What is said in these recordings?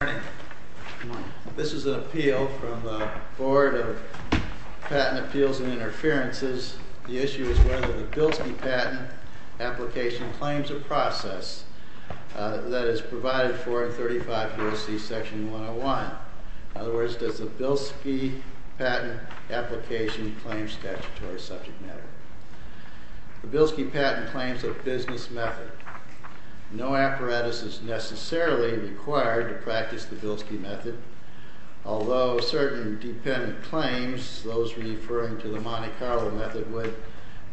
Good morning. This is an appeal from the Board of Patent Appeals and Interferences. The issue is whether the Bilski patent application claims a process that is provided for in 35 U.S.C. Section 101. In other words, does the Bilski patent application claim statutory subject matter? The Bilski patent claims a business method. No apparatus is necessarily required to practice the Bilski method, although certain dependent claims, those referring to the Monte Carlo method, would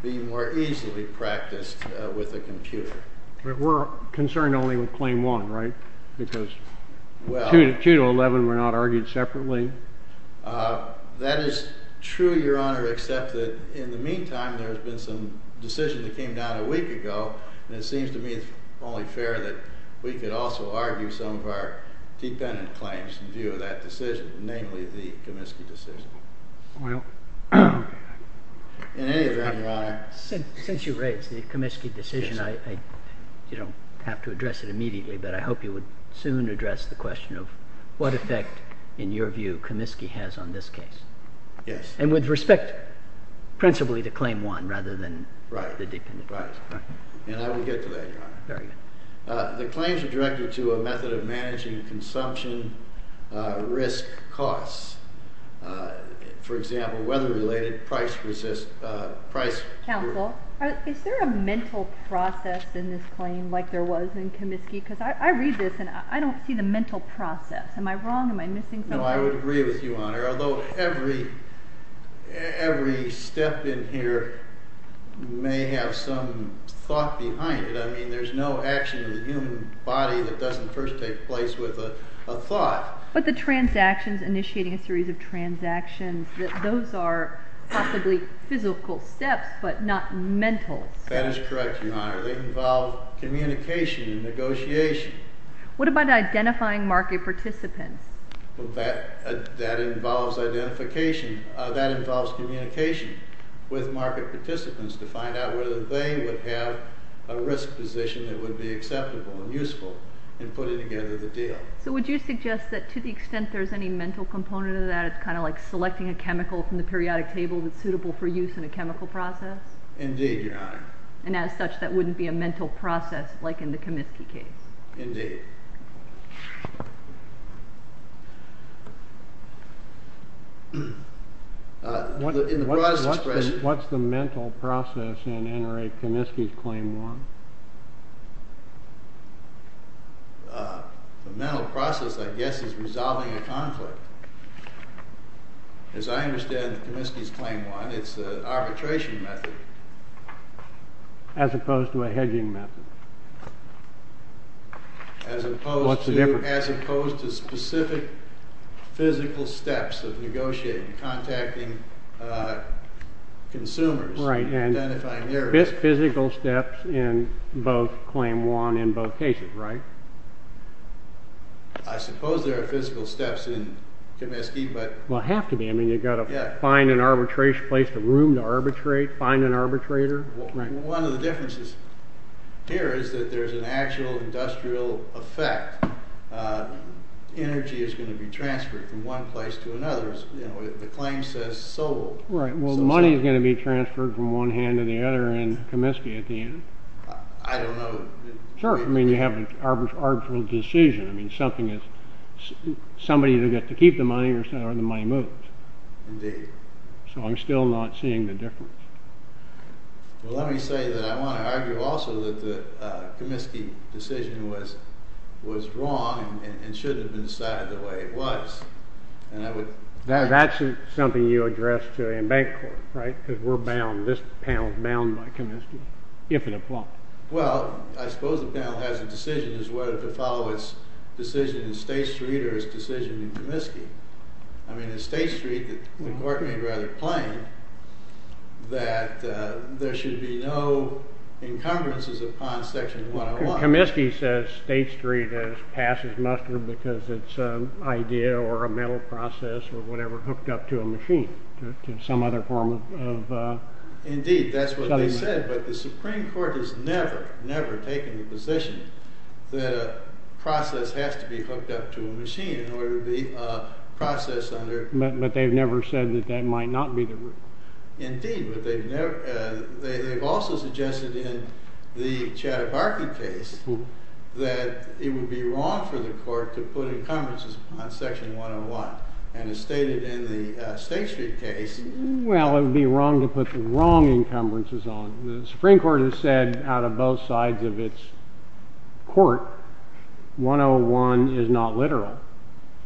be more easily practiced with a computer. But we're concerned only with Claim 1, right? Because 2 to 11 were not argued separately. That is true, Your Honor, except that in the meantime, there has been some decision that came down a week ago, and it seems to me it's only fair that we could also argue some of our dependent claims in view of that decision, namely the Comiskey decision. In any event, Your Honor. Since you raised the Comiskey decision, you don't have to address it immediately, but I hope you would soon address the question of what effect, in your view, Comiskey has on this case. Yes. And with respect principally to Claim 1 rather than the dependent claims. Right. And I will get to that, Your Honor. Very good. The claims are directed to a method of managing consumption risk costs. For example, weather-related, price-resist, price- I read this, and I don't see the mental process. Am I wrong? Am I missing something? No, I would agree with you, Your Honor, although every step in here may have some thought behind it. I mean, there's no action in the human body that doesn't first take place with a thought. But the transactions, initiating a series of transactions, those are possibly physical steps, but not mental steps. That is correct, Your Honor. They involve communication and negotiation. What about identifying market participants? That involves communication with market participants to find out whether they would have a risk position that would be acceptable and useful in putting together the deal. So would you suggest that to the extent there's any mental component of that, it's kind of like selecting a chemical from the periodic table that's suitable for use in a chemical process? Indeed, Your Honor. And as such, that wouldn't be a mental process like in the Comiskey case? Indeed. What's the mental process in NRA Comiskey's Claim 1? The mental process, I guess, is resolving a conflict. As I understand Comiskey's Claim 1, it's an arbitration method. As opposed to a hedging method. What's the difference? As opposed to specific physical steps of negotiating, contacting consumers. Right, and physical steps in both Claim 1 and both cases, right? I suppose there are physical steps in Comiskey, but... Well, have to be. I mean, you've got to find an arbitration place, a room to arbitrate, find an arbitrator. One of the differences here is that there's an actual industrial effect. Energy is going to be transferred from one place to another. The claim says sold. Right, well, money is going to be transferred from one hand to the other in Comiskey at the end. I don't know... I mean, you have an arbitral decision. I mean, something is... Somebody either gets to keep the money or the money moves. Indeed. So I'm still not seeing the difference. Well, let me say that I want to argue also that the Comiskey decision was wrong and should have been decided the way it was. That's something you addressed in bank court, right? Because we're bound, this panel is bound by Comiskey, if it applies. Well, I suppose the panel has a decision as to whether to follow its decision in State Street or its decision in Comiskey. I mean, in State Street, the court made rather plain that there should be no encumbrances upon Section 101. Comiskey says State Street has passed its muster because it's an idea or a mental process or whatever hooked up to a machine, to some other form of... Indeed, that's what they said, but the Supreme Court has never, never taken the position that a process has to be hooked up to a machine in order to be a process under... But they've never said that that might not be the rule. Indeed, but they've never... They've also suggested in the Chattanooga case that it would be wrong for the court to put encumbrances upon Section 101. And it's stated in the State Street case... Well, it would be wrong to put the wrong encumbrances on. The Supreme Court has said out of both sides of its court, 101 is not literal.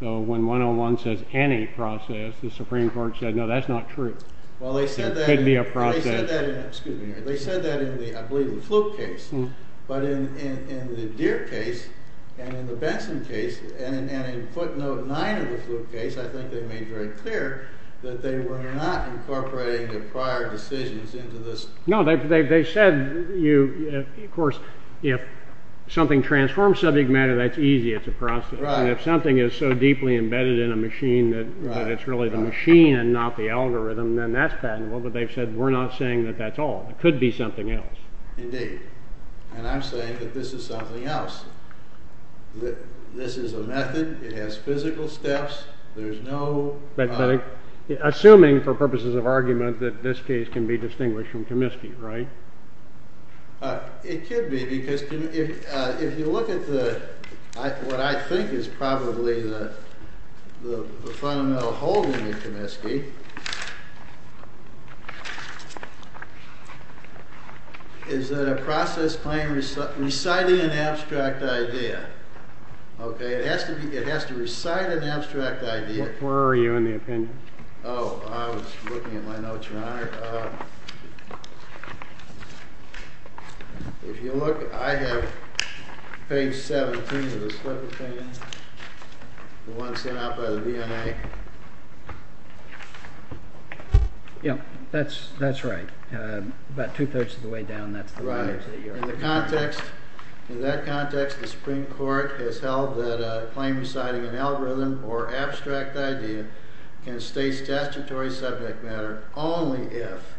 So when 101 says any process, the Supreme Court said, no, that's not true. Well, they said that... It could be a process. Excuse me. They said that in the, I believe, the Fluke case. But in the Deere case and in the Benson case and in footnote 9 of the Fluke case, I think they made very clear that they were not incorporating the prior decisions into this... No, they said, of course, if something transforms subject matter, that's easy. It's a process. And if something is so deeply embedded in a machine that it's really the machine and not the algorithm, then that's patentable. But they've said, we're not saying that that's all. It could be something else. Indeed. And I'm saying that this is something else. This is a method. It has physical steps. There's no... Assuming for purposes of argument that this case can be distinguished from Comiskey, right? It could be, because if you look at what I think is probably the fundamental holding of Comiskey, is that a process claim reciting an abstract idea. Okay? It has to recite an abstract idea. Where are you in the opinion? Oh, I was looking at my notes, Your Honor. If you look, I have page 17 of the Slip of Pain, the one sent out by the VNA. Yeah, that's right. About two-thirds of the way down, that's the letters that you're... In that context, the Supreme Court has held that a claim reciting an algorithm or abstract idea can state statutory subject matter only if,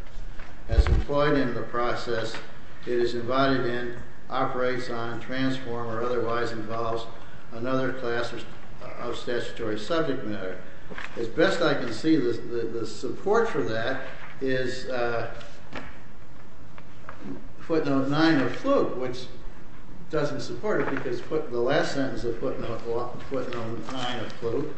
as employed in the process, it is invited in, operates on, transform, or otherwise involves another class of statutory subject matter. As best I can see, the support for that is footnote 9 of Fluke, which doesn't support it, because the last sentence of footnote 9 of Fluke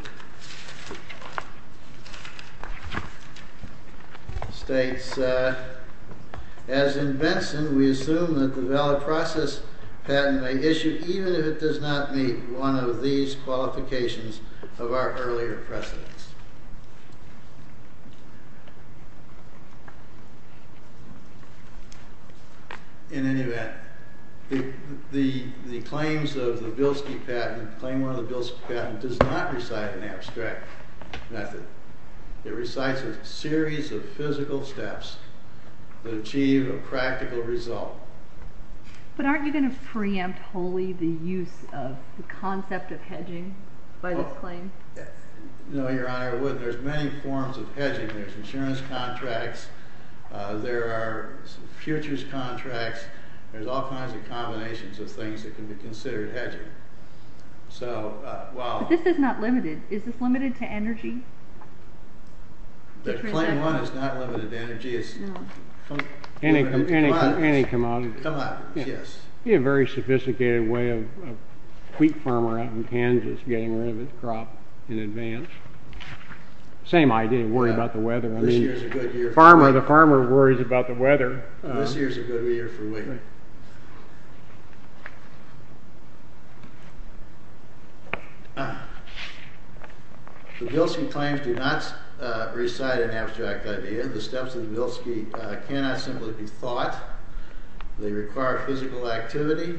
states, As in Benson, we assume that the valid process patent may issue even if it does not meet one of these qualifications of our earlier precedents. In any event, the claims of the Bilski patent, the claim of the Bilski patent, does not recite an abstract method. It recites a series of physical steps that achieve a practical result. But aren't you going to preempt wholly the use of the concept of hedging by this claim? No, Your Honor, I wouldn't. There's many forms of hedging. There's insurance contracts. There are futures contracts. There's all kinds of combinations of things that can be considered hedging. But this is not limited. Is this limited to energy? But claim one is not limited to energy. It's limited to commodities. Any commodity. Commodities, yes. It would be a very sophisticated way of a wheat farmer out in Kansas getting rid of his crop in advance. Same idea, worry about the weather. This year's a good year for wheat. The farmer worries about the weather. This year's a good year for wheat. The Bilski claims do not recite an abstract idea. The steps of the Bilski cannot simply be thought. They require physical activity.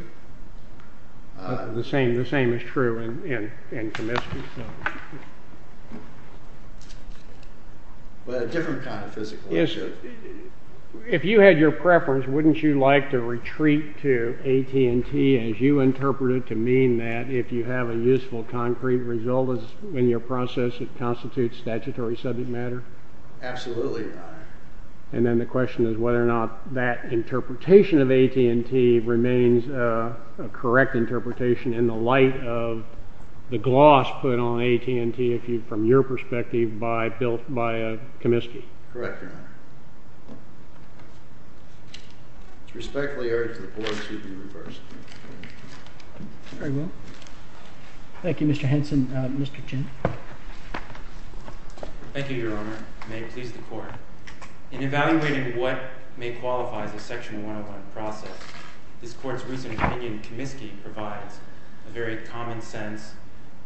The same is true in Comiskey. But a different kind of physical activity. If you had your preference, wouldn't you like to retreat to AT&T, as you interpret it, to mean that if you have a useful concrete result in your process, it constitutes statutory subject matter? Absolutely, Your Honor. And then the question is whether or not that interpretation of AT&T remains a correct interpretation in the light of the gloss put on AT&T from your perspective by Comiskey. Correct, Your Honor. Respectfully urge the Board to be reversed. Very well. Thank you, Mr. Henson. Mr. Chin. Thank you, Your Honor. May it please the Court. In evaluating what may qualify as a Section 101 process, this Court's recent opinion in Comiskey provides a very common sense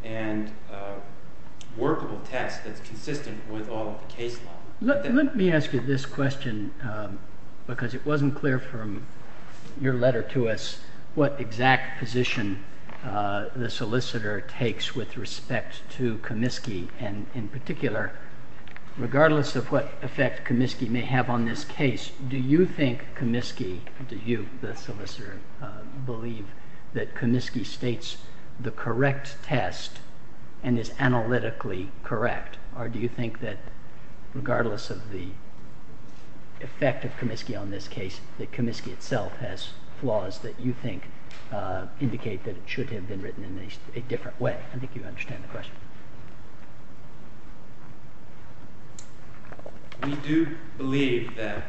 and workable test that's consistent with all of the case law. Let me ask you this question, because it wasn't clear from your letter to us what exact position the solicitor takes with respect to Comiskey, and in particular, regardless of what effect Comiskey may have on this case, do you think Comiskey, do you, the solicitor, believe that Comiskey states the correct test and is analytically correct, or do you think that regardless of the effect of Comiskey on this case, that Comiskey itself has flaws that you think indicate that it should have been written in a different way? I think you understand the question. We do believe that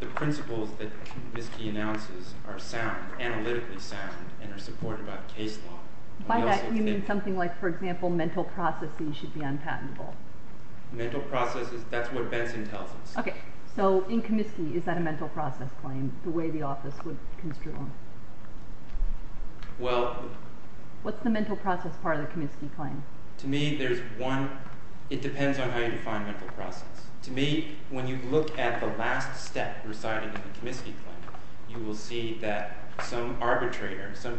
the principles that Comiskey announces are sound, analytically sound, and are supported by the case law. By that, you mean something like, for example, mental processes should be unpatentable. Mental processes, that's what Benson tells us. Okay, so in Comiskey, is that a mental process claim, the way the office would construe them? Well... What's the mental process part of the Comiskey claim? To me, there's one, it depends on how you define mental process. To me, when you look at the last step residing in the Comiskey claim, you will see that some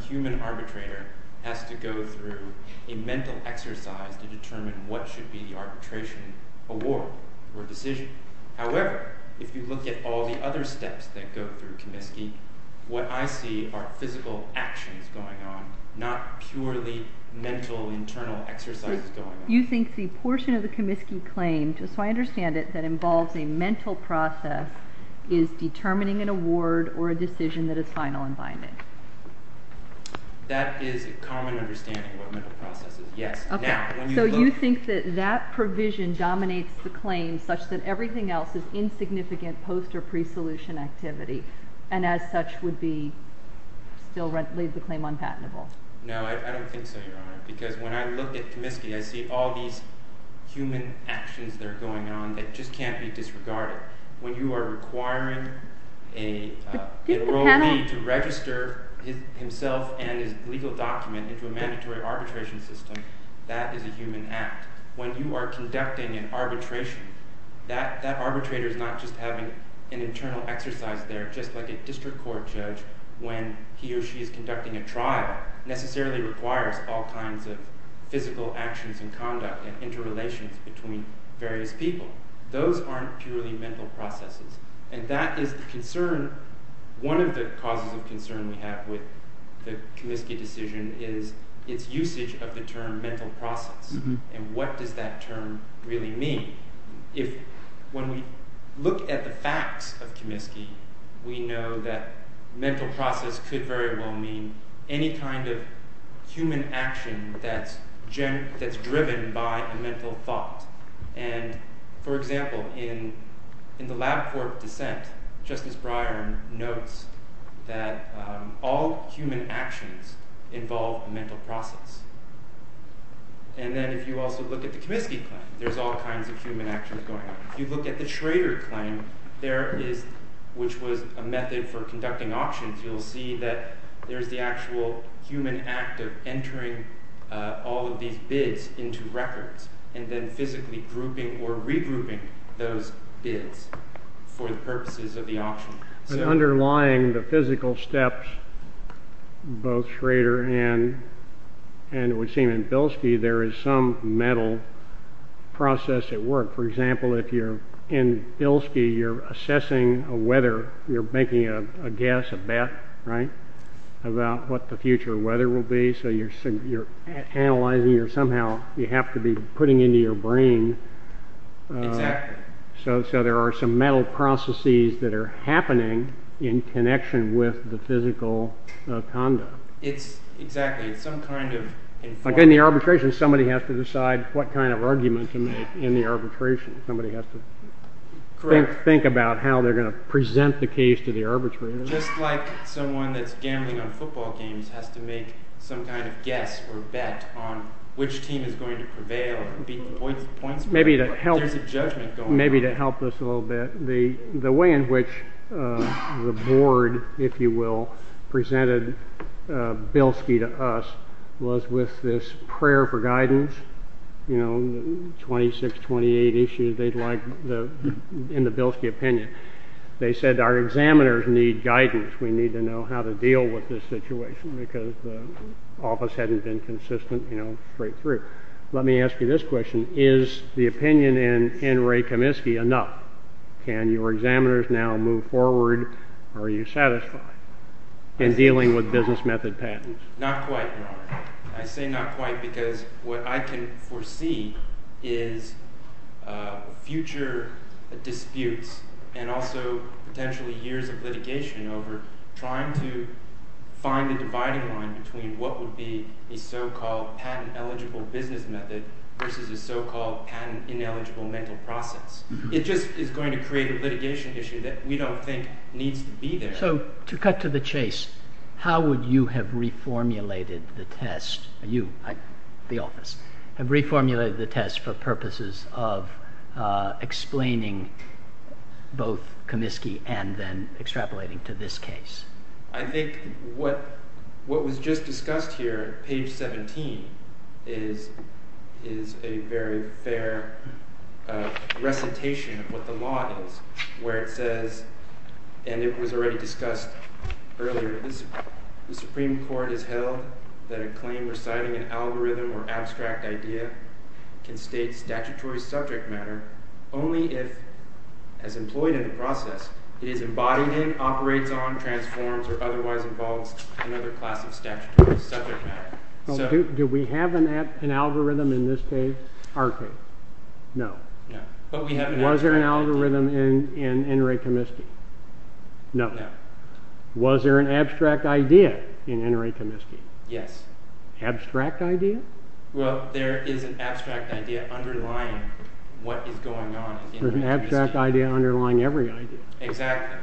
human arbitrator has to go through a mental exercise to determine what should be the arbitration award for a decision. However, if you look at all the other steps that go through Comiskey, what I see are physical actions going on, not purely mental internal exercises going on. You think the portion of the Comiskey claim, just so I understand it, that involves a mental process is determining an award or a decision that is final and binding. That is a common understanding of what mental process is, yes. Okay, so you think that that provision dominates the claim such that everything else is insignificant post- or pre-solution activity, and as such would still leave the claim unpatentable. No, I don't think so, Your Honor, because when I look at Comiskey, I see all these human actions that are going on that just can't be disregarded. When you are requiring an enrollee to register himself and his legal document into a mandatory arbitration system, that is a human act. When you are conducting an arbitration, that arbitrator is not just having an internal exercise there, just like a district court judge when he or she is conducting a trial that necessarily requires all kinds of physical actions and conduct and interrelations between various people. Those aren't purely mental processes, and that is the concern. One of the causes of concern we have with the Comiskey decision is its usage of the term mental process, and what does that term really mean. When we look at the facts of Comiskey, we know that mental process could very well mean any kind of human action that's driven by a mental thought. For example, in the lab court dissent, Justice Breyer notes that all human actions involve mental process. And then if you also look at the Comiskey claim, there's all kinds of human actions going on. If you look at the Schrader claim, which was a method for conducting auctions, you'll see that there's the actual human act of entering all of these bids into records and then physically grouping or regrouping those bids for the purposes of the auction. Underlying the physical steps, both Schrader and it would seem in Bilski, there is some mental process at work. For example, if you're in Bilski, you're assessing a weather. You're making a guess, a bet, right, about what the future weather will be. So you're analyzing or somehow you have to be putting into your brain. So there are some mental processes that are happening in connection with the physical conduct. Exactly. In the arbitration, somebody has to decide what kind of argument to make in the arbitration. Somebody has to think about how they're going to present the case to the arbitrator. Just like someone that's gambling on football games has to make some kind of guess or bet on which team is going to prevail. Maybe to help us a little bit, the way in which the board, if you will, presented Bilski to us was with this prayer for guidance. You know, 26, 28 issues they'd like in the Bilski opinion. They said our examiners need guidance. We need to know how to deal with this situation because the office hadn't been consistent, you know, straight through. Let me ask you this question. Is the opinion in Ray Kaminsky enough? Can your examiners now move forward? Are you satisfied in dealing with business method patents? Not quite, Your Honor. I say not quite because what I can foresee is future disputes and also potentially years of litigation over trying to find a dividing line between what would be a so-called patent-eligible business method versus a so-called patent-ineligible mental process. It just is going to create a litigation issue that we don't think needs to be there. So to cut to the chase, how would you have reformulated the test for purposes of explaining both Kaminsky and then extrapolating to this case? I think what was just discussed here, page 17, is a very fair recitation of what the law is where it says, and it was already discussed earlier, the Supreme Court has held that a claim reciting an algorithm or abstract idea can state statutory subject matter only if, as employed in the process, it is embodied in, operates on, transforms, or otherwise involves another class of statutory subject matter. Do we have an algorithm in this case? Our case? No. Was there an algorithm in N. Ray Kaminsky? No. Was there an abstract idea in N. Ray Kaminsky? Yes. Abstract idea? Well, there is an abstract idea underlying what is going on. There is an abstract idea underlying every idea. Exactly.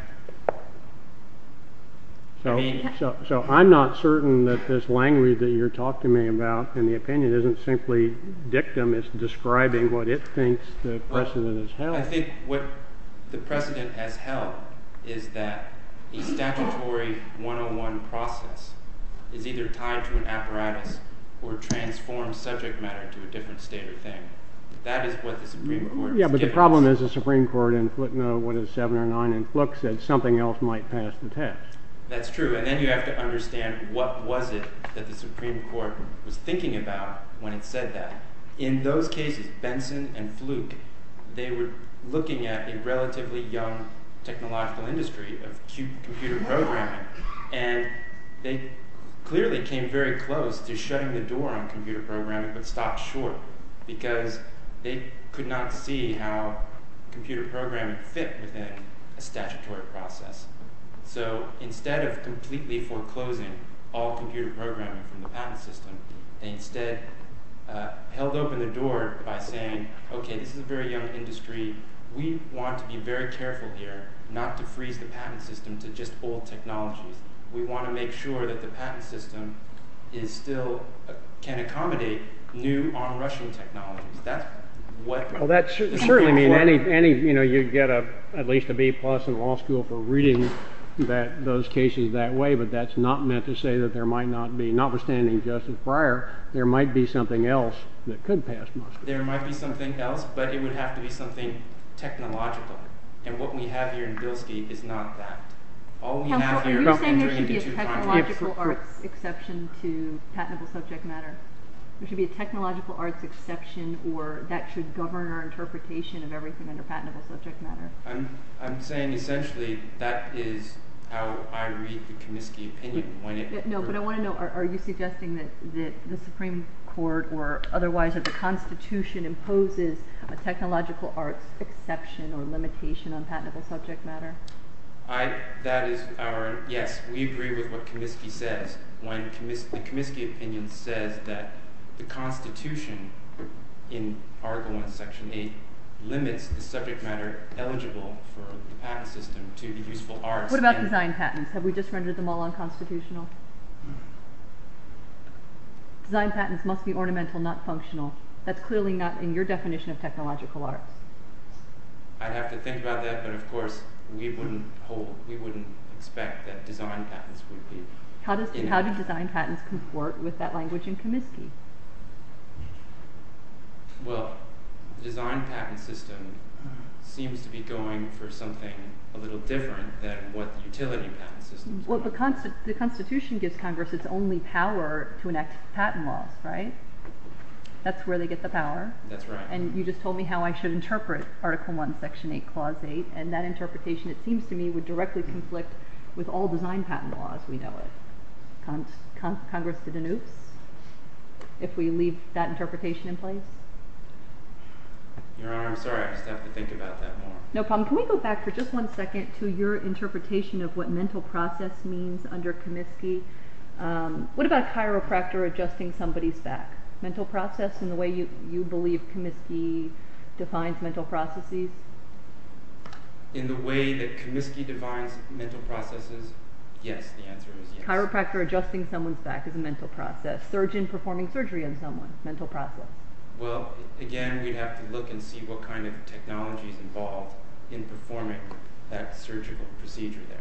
So I'm not certain that this language that you're talking to me about and the opinion isn't simply dictum, it's describing what it thinks the precedent has held. I think what the precedent has held is that a statutory 101 process is either tied to an apparatus or transforms subject matter to a different state or thing. That is what the Supreme Court has given us. Yeah, but the problem is the Supreme Court in what is 709 in Fluke said something else might pass the test. That's true. And then you have to understand what was it that the Supreme Court was thinking about when it said that. In those cases, Benson and Fluke, they were looking at a relatively young technological industry of computer programming. And they clearly came very close to shutting the door on computer programming but stopped short because they could not see how computer programming fit within a statutory process. So instead of completely foreclosing all computer programming from the patent system, they instead held open the door by saying, okay, this is a very young industry. We want to be very careful here not to freeze the patent system to just old technologies. We want to make sure that the patent system is still, can accommodate new onrushing technologies. That's what- Well, that certainly means any, you know, you'd get at least a B plus in law school for reading those cases that way. But that's not meant to say that there might not be, notwithstanding Justice Breyer, there might be something else that could pass Moscow. There might be something else, but it would have to be something technological. And what we have here in Bilski is not that. Are you saying there should be a technological arts exception to patentable subject matter? There should be a technological arts exception or that should govern our interpretation of everything under patentable subject matter? I'm saying essentially that is how I read the Comiskey opinion. No, but I want to know, are you suggesting that the Supreme Court or otherwise the Constitution imposes a technological arts exception or limitation on patentable subject matter? I, that is our, yes, we agree with what Comiskey says. When the Comiskey opinion says that the Constitution in Article 1, Section 8 limits the subject matter eligible for the patent system to be useful arts. What about design patents? Have we just rendered them all unconstitutional? Design patents must be ornamental, not functional. That's clearly not in your definition of technological arts. I'd have to think about that, but of course we wouldn't hold, we wouldn't expect that design patents would be. How do design patents comport with that language in Comiskey? Well, design patent system seems to be going for something a little different than what utility patent systems do. Well, the Constitution gives Congress its only power to enact patent laws, right? That's where they get the power. That's right. And you just told me how I should interpret Article 1, Section 8, Clause 8, and that interpretation, it seems to me, would directly conflict with all design patent laws we know of. Congress did an oops if we leave that interpretation in place? Your Honor, I'm sorry, I just have to think about that more. No problem. Can we go back for just one second to your interpretation of what mental process means under Comiskey? What about a chiropractor adjusting somebody's back? Mental process in the way you believe Comiskey defines mental processes? In the way that Comiskey defines mental processes, yes, the answer is yes. Chiropractor adjusting someone's back is a mental process. Surgeon performing surgery on someone is a mental process. Well, again, we'd have to look and see what kind of technology is involved in performing that surgical procedure there.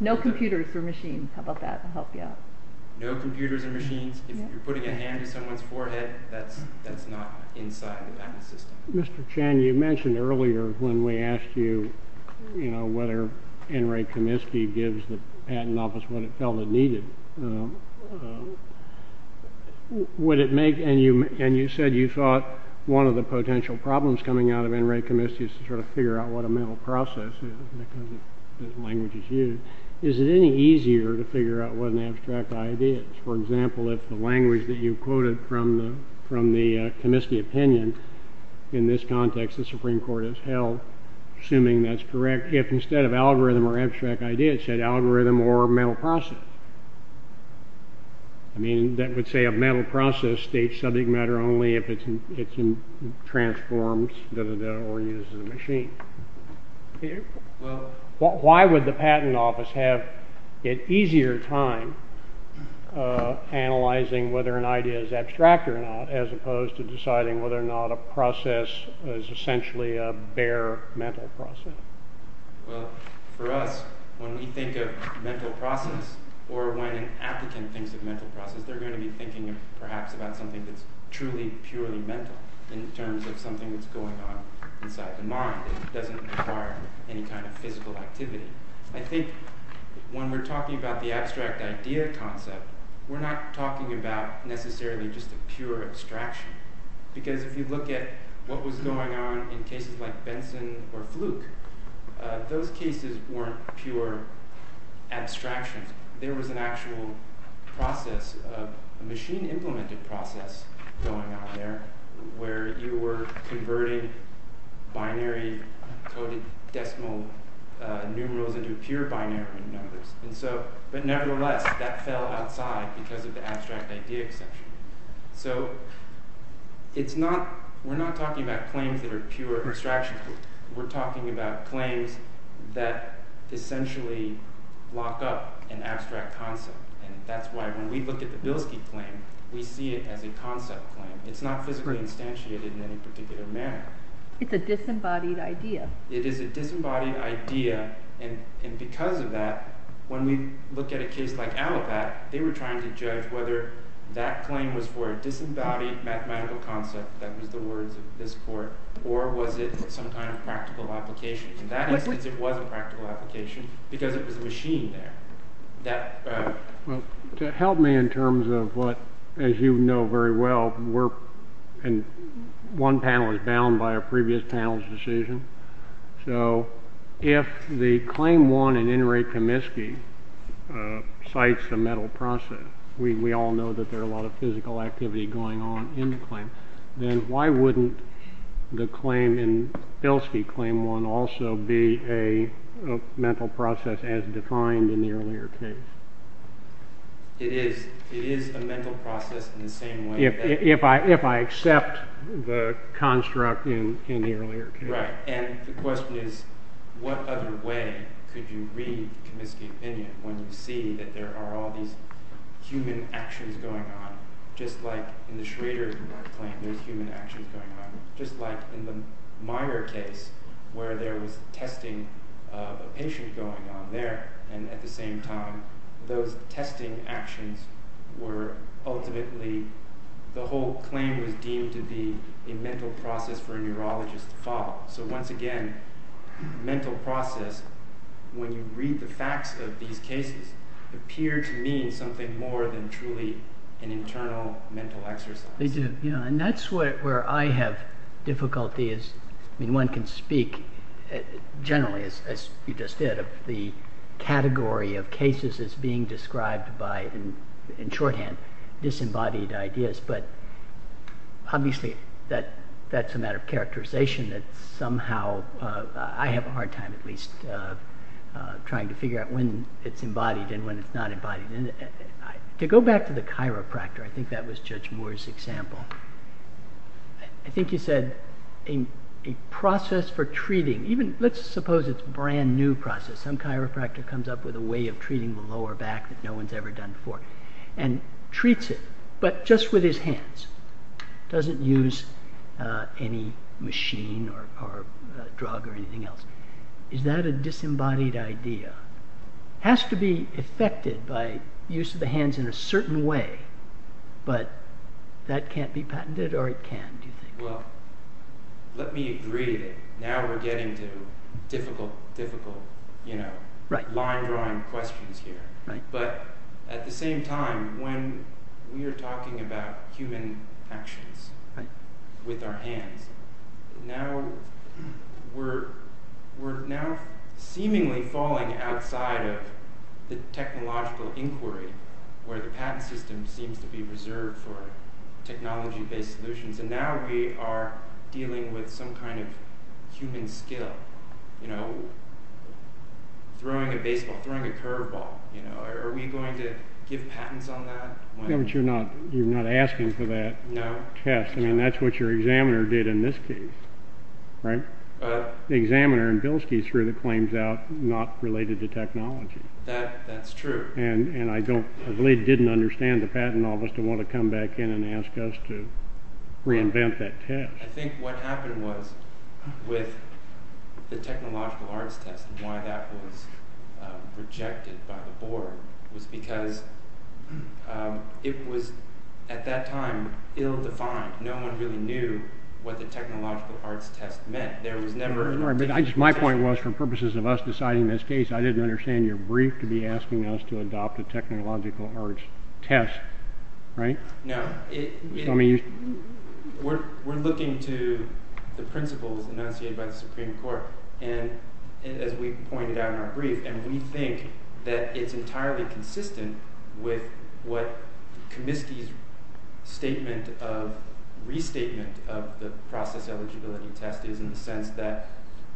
No computers or machines. How about that? That'll help you out. No computers or machines. If you're putting a hand on someone's forehead, that's not inside the patent system. Mr. Chan, you mentioned earlier when we asked you, you know, whether N. Ray Comiskey gives the patent office what it felt it needed. Would it make, and you said you thought one of the potential problems coming out of N. Ray Comiskey is to sort of figure out what a mental process is because the language is used. Is it any easier to figure out what an abstract idea is? For example, if the language that you quoted from the Comiskey opinion in this context, the Supreme Court has held, assuming that's correct, if instead of algorithm or abstract idea, it said algorithm or mental process. I mean, that would say a mental process states subject matter only if it's transformed or used as a machine. Why would the patent office have an easier time analyzing whether an idea is abstract or not as opposed to deciding whether or not a process is essentially a bare mental process? Well, for us, when we think of mental process or when an applicant thinks of mental process, they're going to be thinking perhaps about something that's truly purely mental in terms of something that's going on inside the mind. It doesn't require any kind of physical activity. I think when we're talking about the abstract idea concept, we're not talking about necessarily just a pure abstraction because if you look at what was going on in cases like Benson or Fluke, those cases weren't pure abstractions. There was an actual process, a machine-implemented process going on there where you were converting binary coded decimal numerals into pure binary numbers. But nevertheless, that fell outside because of the abstract idea conception. So we're not talking about claims that are pure abstractions. We're talking about claims that essentially lock up an abstract concept. And that's why when we look at the Bilski claim, we see it as a concept claim. It's not physically instantiated in any particular manner. It's a disembodied idea. It is a disembodied idea. And because of that, when we look at a case like Allipat, they were trying to judge whether that claim was for a disembodied mathematical concept, that was the words of this court, or was it some kind of practical application. In that instance, it was a practical application because it was a machine there. Well, to help me in terms of what, as you know very well, and one panel is bound by a previous panel's decision. So if the claim one in In re Comiskey cites the metal process, we all know that there are a lot of physical activity going on in the claim. Then why wouldn't the claim in Bilski claim one also be a metal process as defined in the earlier case? It is. It is a metal process in the same way. If I accept the construct in the earlier case. Right. And the question is what other way could you read Comiskey opinion when you see that there are all these human actions going on, just like in the Schrader claim there's human actions going on. Just like in the Meyer case where there was testing of a patient going on there and at the same time those testing actions were ultimately, the whole claim was deemed to be a metal process for a neurologist to follow. So once again, mental process, when you read the facts of these cases, appear to mean something more than truly an internal mental exercise. And that's where I have difficulty. One can speak generally, as you just did, of the category of cases as being described by, in shorthand, disembodied ideas. But obviously that's a matter of characterization that somehow, I have a hard time at least trying to figure out when it's embodied and when it's not embodied. To go back to the chiropractor, I think that was Judge Moore's example. I think you said a process for treating, even let's suppose it's a brand new process. Some chiropractor comes up with a way of treating the lower back that no one's ever done before and treats it. But just with his hands. Doesn't use any machine or drug or anything else. Is that a disembodied idea? Has to be affected by use of the hands in a certain way, but that can't be patented or it can, do you think? Well, let me agree that now we're getting to difficult line drawing questions here. But at the same time, when we are talking about human actions with our hands, we're now seemingly falling outside of the technological inquiry where the patent system seems to be reserved for technology-based solutions. And now we are dealing with some kind of human skill. You know, throwing a baseball, throwing a curveball. Are we going to give patents on that? You're not asking for that test. I mean, that's what your examiner did in this case, right? The examiner in Bilski threw the claims out not related to technology. That's true. And I really didn't understand the patent office to want to come back in and ask us to reinvent that test. I think what happened was with the technological arts test and why that was rejected by the board was because it was, at that time, ill-defined. No one really knew what the technological arts test meant. My point was, for purposes of us deciding this case, I didn't understand your brief to be asking us to adopt a technological arts test, right? No. We're looking to the principles enunciated by the Supreme Court, as we pointed out in our brief, and we think that it's entirely consistent with what Comiskey's restatement of the process eligibility test is in the sense that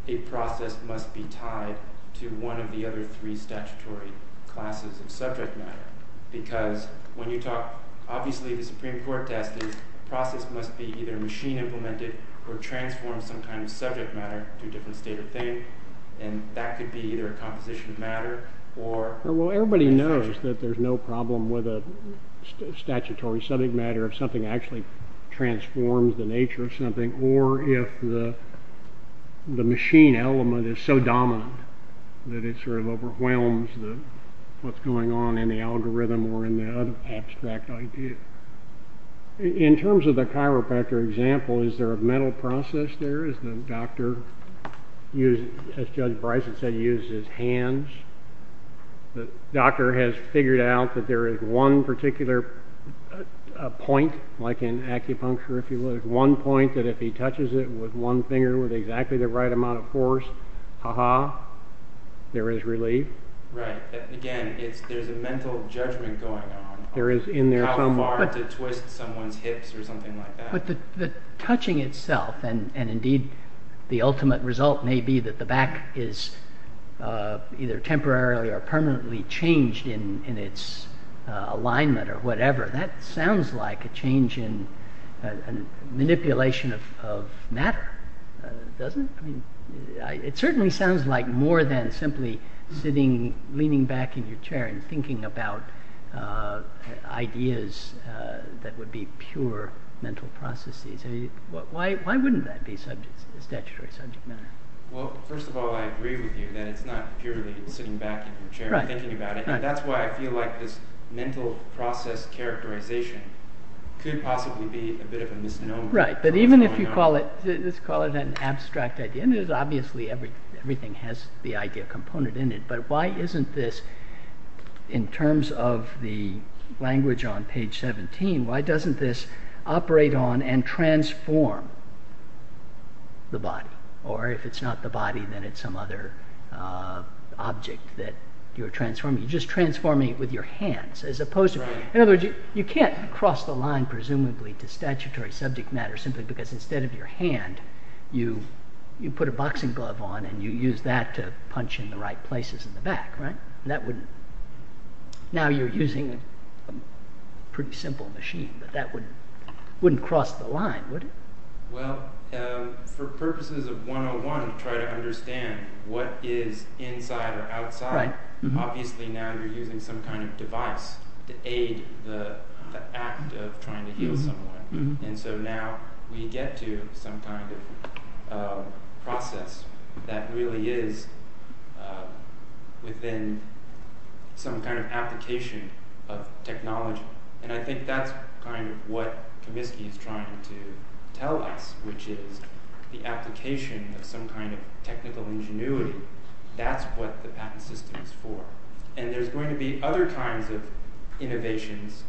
a process must be tied to one of the other three statutory classes of subject matter. Because when you talk, obviously the Supreme Court test is a process must be either machine implemented or transform some kind of subject matter to a different state of thing. And that could be either a composition of matter or... Well, everybody knows that there's no problem with a statutory subject matter if something actually transforms the nature of something or if the machine element is so dominant that it sort of overwhelms what's going on in the algorithm or in the abstract idea. In terms of the chiropractor example, is there a mental process there? Has the doctor, as Judge Bryson said, used his hands? The doctor has figured out that there is one particular point, like in acupuncture, if you will, one point that if he touches it with one finger with exactly the right amount of force, aha, there is relief. Right. Again, there's a mental judgment going on on how far to twist someone's hips or something like that. But the touching itself and indeed the ultimate result may be that the back is either temporarily or permanently changed in its alignment or whatever. That sounds like a change in manipulation of matter, doesn't it? It certainly sounds like more than simply sitting, leaning back in your chair and thinking about ideas that would be pure mental processes. Why wouldn't that be statutory subject matter? Well, first of all, I agree with you that it's not purely sitting back in your chair and thinking about it. That's why I feel like this mental process characterization could possibly be a bit of a misnomer. Right, but even if you call it an abstract idea, and obviously everything has the idea component in it, but why isn't this, in terms of the language on page 17, why doesn't this operate on and transform the body? Or if it's not the body, then it's some other object that you're transforming. You're just transforming it with your hands. In other words, you can't cross the line, presumably, to statutory subject matter simply because instead of your hand, you put a boxing glove on and you use that to punch in the right places in the back. Now you're using a pretty simple machine, but that wouldn't cross the line, would it? Well, for purposes of 101, to try to understand what is inside or outside, obviously now you're using some kind of device to aid the act of trying to heal someone. So now we get to some kind of process that really is within some kind of application of technology. I think that's what Comiskey is trying to tell us, which is the application of some kind of technical ingenuity. That's what the patent system is for. And there's going to be other kinds of innovations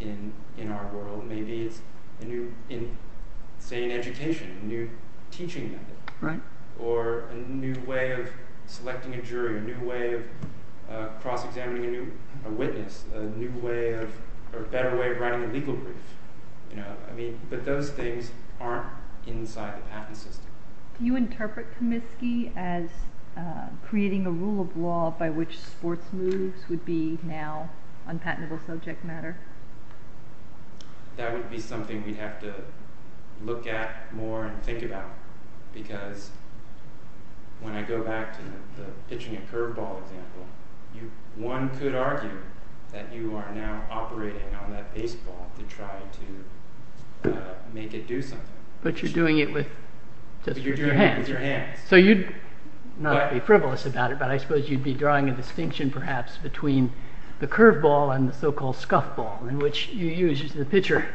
in our world. Maybe it's, say, an education, a new teaching method, or a new way of selecting a jury, a new way of cross-examining a witness, a better way of writing a legal brief. But those things aren't inside the patent system. Do you interpret Comiskey as creating a rule of law by which sports moves would be now unpatentable subject matter? That would be something we'd have to look at more and think about, because when I go back to the pitching a curveball example, one could argue that you are now operating on that baseball to try to make it do something. But you're doing it with your hands. So you'd, not to be frivolous about it, but I suppose you'd be drawing a distinction perhaps between the curveball and the so-called scuffball, in which the pitcher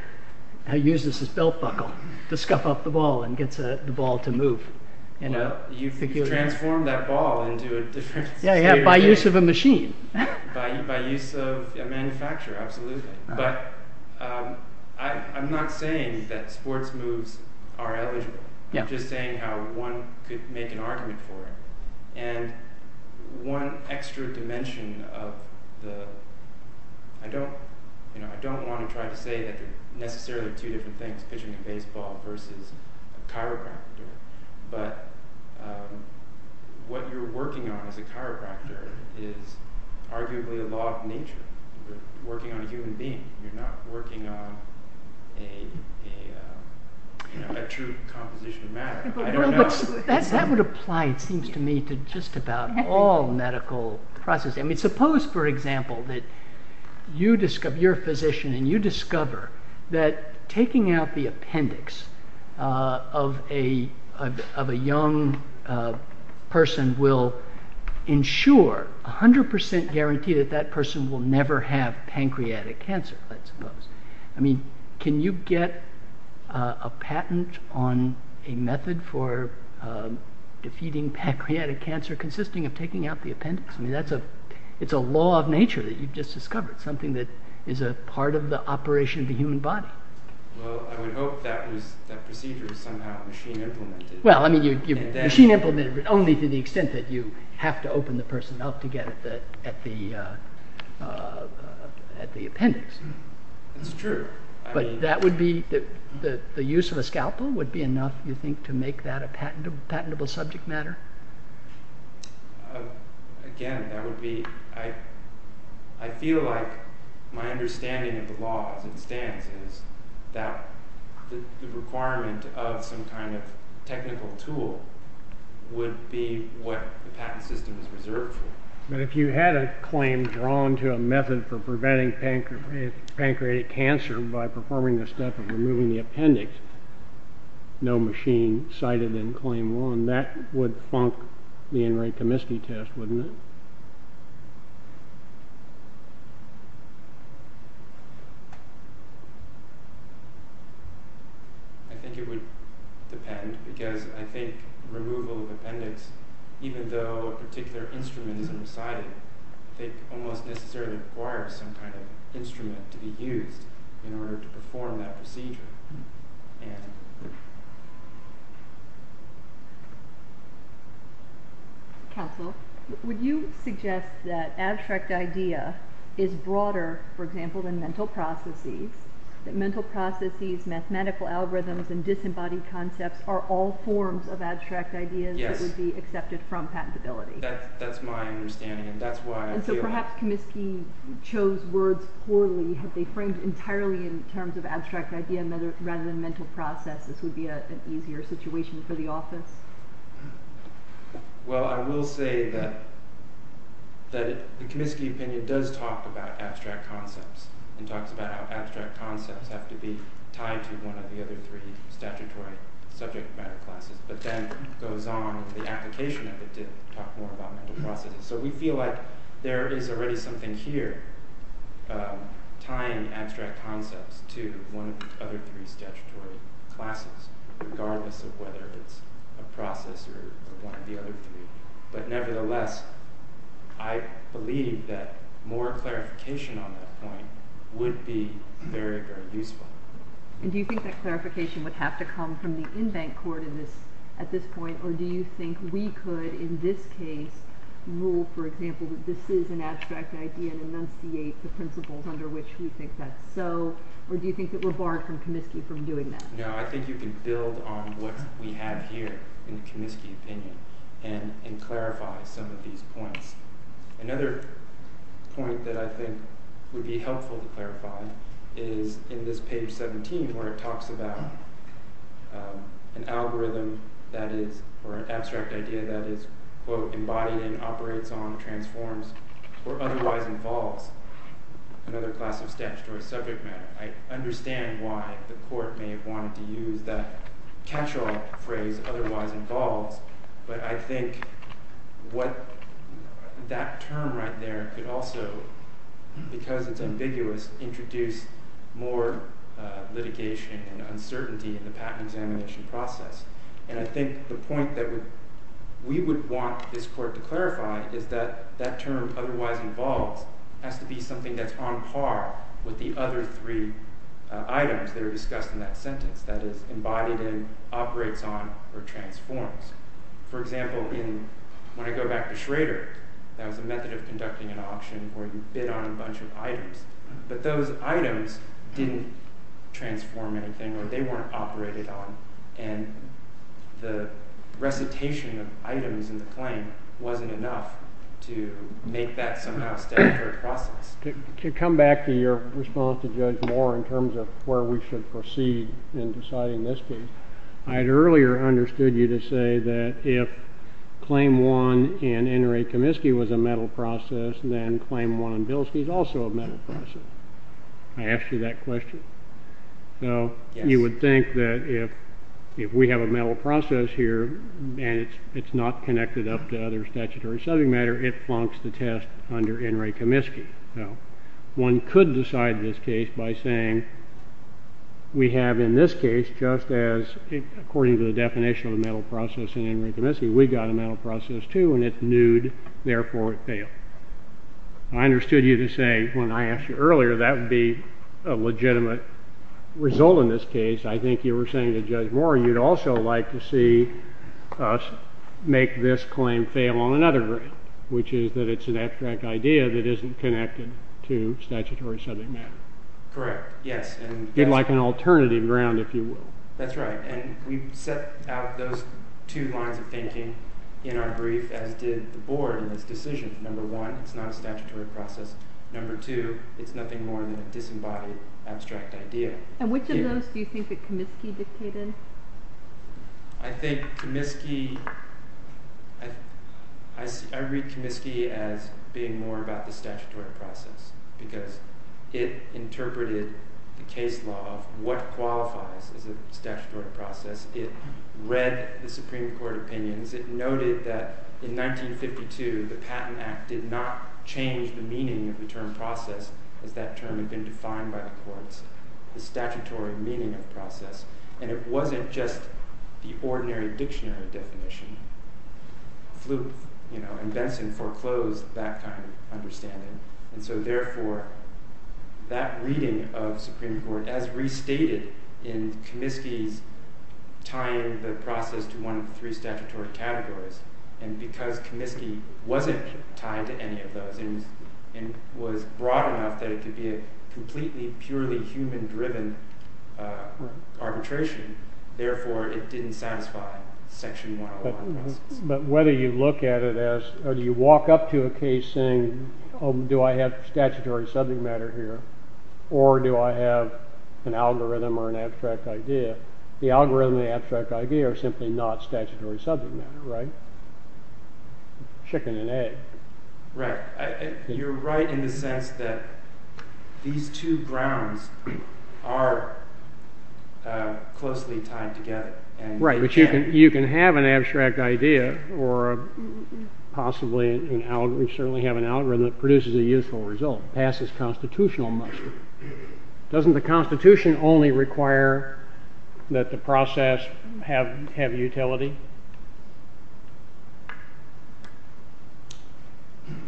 uses his belt buckle to scuff up the ball and gets the ball to move. You've transformed that ball into a different sphere. Yeah, by use of a machine. By use of a manufacturer, absolutely. But I'm not saying that sports moves are eligible. I'm just saying how one could make an argument for it. And one extra dimension of the... I don't want to try to say that there are necessarily two different things, pitching a baseball versus a chiropractor, but what you're working on as a chiropractor is arguably a law of nature. You're working on a human being. You're not working on a true composition of matter. That would apply, it seems to me, to just about all medical processes. Suppose, for example, that you're a physician and you discover that taking out the appendix of a young person will ensure, 100% guarantee that that person will never have pancreatic cancer, I suppose. I mean, can you get a patent on a method for defeating pancreatic cancer consisting of taking out the appendix? I mean, it's a law of nature that you've just discovered, something that is a part of the operation of the human body. Well, I would hope that procedure is somehow machine-implemented. Well, I mean, machine-implemented, but only to the extent that you have to open the person up to get at the appendix. That's true. But the use of a scalpel would be enough, you think, to make that a patentable subject matter? Again, that would be... I feel like my understanding of the law as it stands is that the requirement of some kind of technical tool would be what the patent system is reserved for. But if you had a claim drawn to a method for preventing pancreatic cancer by performing the step of removing the appendix, no machine cited in Claim 1, that would funk the Enright-Pomisky test, wouldn't it? I think it would depend, because I think removal of appendix, even though a particular instrument isn't cited, I think almost necessarily requires some kind of instrument to be used in order to perform that procedure. Anne. Counsel, would you suggest that abstract idea is broader, for example, than mental processes, that mental processes, mathematical algorithms, and disembodied concepts are all forms of abstract ideas that would be accepted from patentability? That's my understanding, and that's why I feel... And so perhaps Comiskey chose words poorly because they framed entirely in terms of abstract idea rather than mental process. This would be an easier situation for the office. Well, I will say that the Comiskey opinion does talk about abstract concepts and talks about how abstract concepts have to be tied to one of the other three statutory subject matter classes, but then goes on in the application of it to talk more about mental processes. So we feel like there is already something here tying abstract concepts to one of the other three statutory classes, regardless of whether it's a process or one of the other three. But nevertheless, I believe that more clarification on that point would be very, very useful. And do you think that clarification would have to come from the in-bank court at this point, or do you think we could, in this case, rule, for example, that this is an abstract idea and enunciate the principles under which we think that's so, or do you think that we're barred from Comiskey from doing that? No, I think you can build on what we have here in the Comiskey opinion and clarify some of these points. Another point that I think would be helpful to clarify is in this page 17 where it talks about an algorithm that is, or an abstract idea that is, quote, embodied and operates on, transforms, or otherwise involves another class of statutory subject matter. I understand why the court may have wanted to use that catch-all phrase, otherwise involves, but I think what that term right there could also, because it's ambiguous, introduce more litigation and uncertainty in the patent examination process. And I think the point that we would want this court to clarify is that that term, otherwise involves, has to be something that's on par with the other three items that are discussed in that sentence, that is, embodied in, operates on, or transforms. For example, when I go back to Schrader, that was a method of conducting an auction where you bid on a bunch of items, but those items didn't transform anything or they weren't operated on, and the recitation of items in the claim wasn't enough to make that somehow a statutory process. To come back to your response to Judge Moore in terms of where we should proceed in deciding this case, I had earlier understood you to say that if Claim 1 and NRA Comiskey was a metal process, then Claim 1 and Bilski is also a metal process. I asked you that question. So you would think that if we have a metal process here and it's not connected up to other statutory subject matter, it flunks the test under NRA Comiskey. One could decide this case by saying, we have in this case, just as according to the definition of a metal process in NRA Comiskey, we've got a metal process, too, and it's nude, therefore it failed. I understood you to say, when I asked you earlier, that would be a legitimate result in this case, I think you were saying to Judge Moore you'd also like to see us make this claim fail on another ground, which is that it's an abstract idea that isn't connected to statutory subject matter. Correct. Yes. You'd like an alternative ground, if you will. That's right. And we've set out those two lines of thinking in our brief as did the Board in this decision. Number one, it's not a statutory process. Number two, it's nothing more than a disembodied abstract idea. And which of those do you think that Comiskey dictated? I think Comiskey... I read Comiskey as being more about the statutory process because it interpreted the case law of what qualifies as a statutory process. It read the Supreme Court opinions. It noted that in 1952, the Patent Act did not change the meaning of the term process as that term had been defined by the courts, the statutory meaning of process. And it wasn't just the ordinary dictionary definition. Fluke and Benson foreclosed that kind of understanding. And so, therefore, that reading of the Supreme Court as restated in Comiskey's tying the process to one of the three statutory categories, and because Comiskey wasn't tied to any of those and was broad enough that it could be a completely purely human-driven arbitration, therefore, it didn't satisfy Section 101. But whether you look at it as... Or do you walk up to a case saying, oh, do I have statutory subject matter here? Or do I have an algorithm or an abstract idea? The algorithm and the abstract idea are simply not statutory subject matter, right? Chicken and egg. Right. You're right in the sense that these two grounds are closely tied together. Right. But you can have an abstract idea or possibly an algorithm, certainly have an algorithm that produces a useful result, passes constitutional muster. Doesn't the Constitution only require that the process have utility?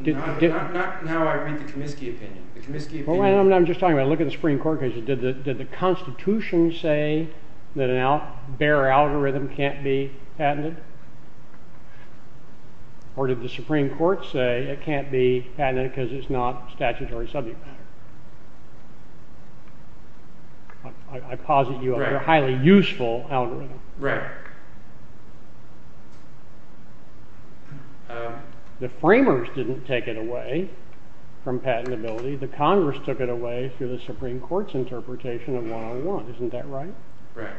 Not in how I read the Comiskey opinion. The Comiskey opinion... Well, I'm just talking about looking at the Supreme Court because did the Constitution say that a bare algorithm can't be patented? Or did the Supreme Court say it can't be patented because it's not statutory subject matter? I posit you on a highly useful algorithm. Right. The framers didn't take it away from patentability. The Congress took it away through the Supreme Court's interpretation of one-on-one. Isn't that right? Right.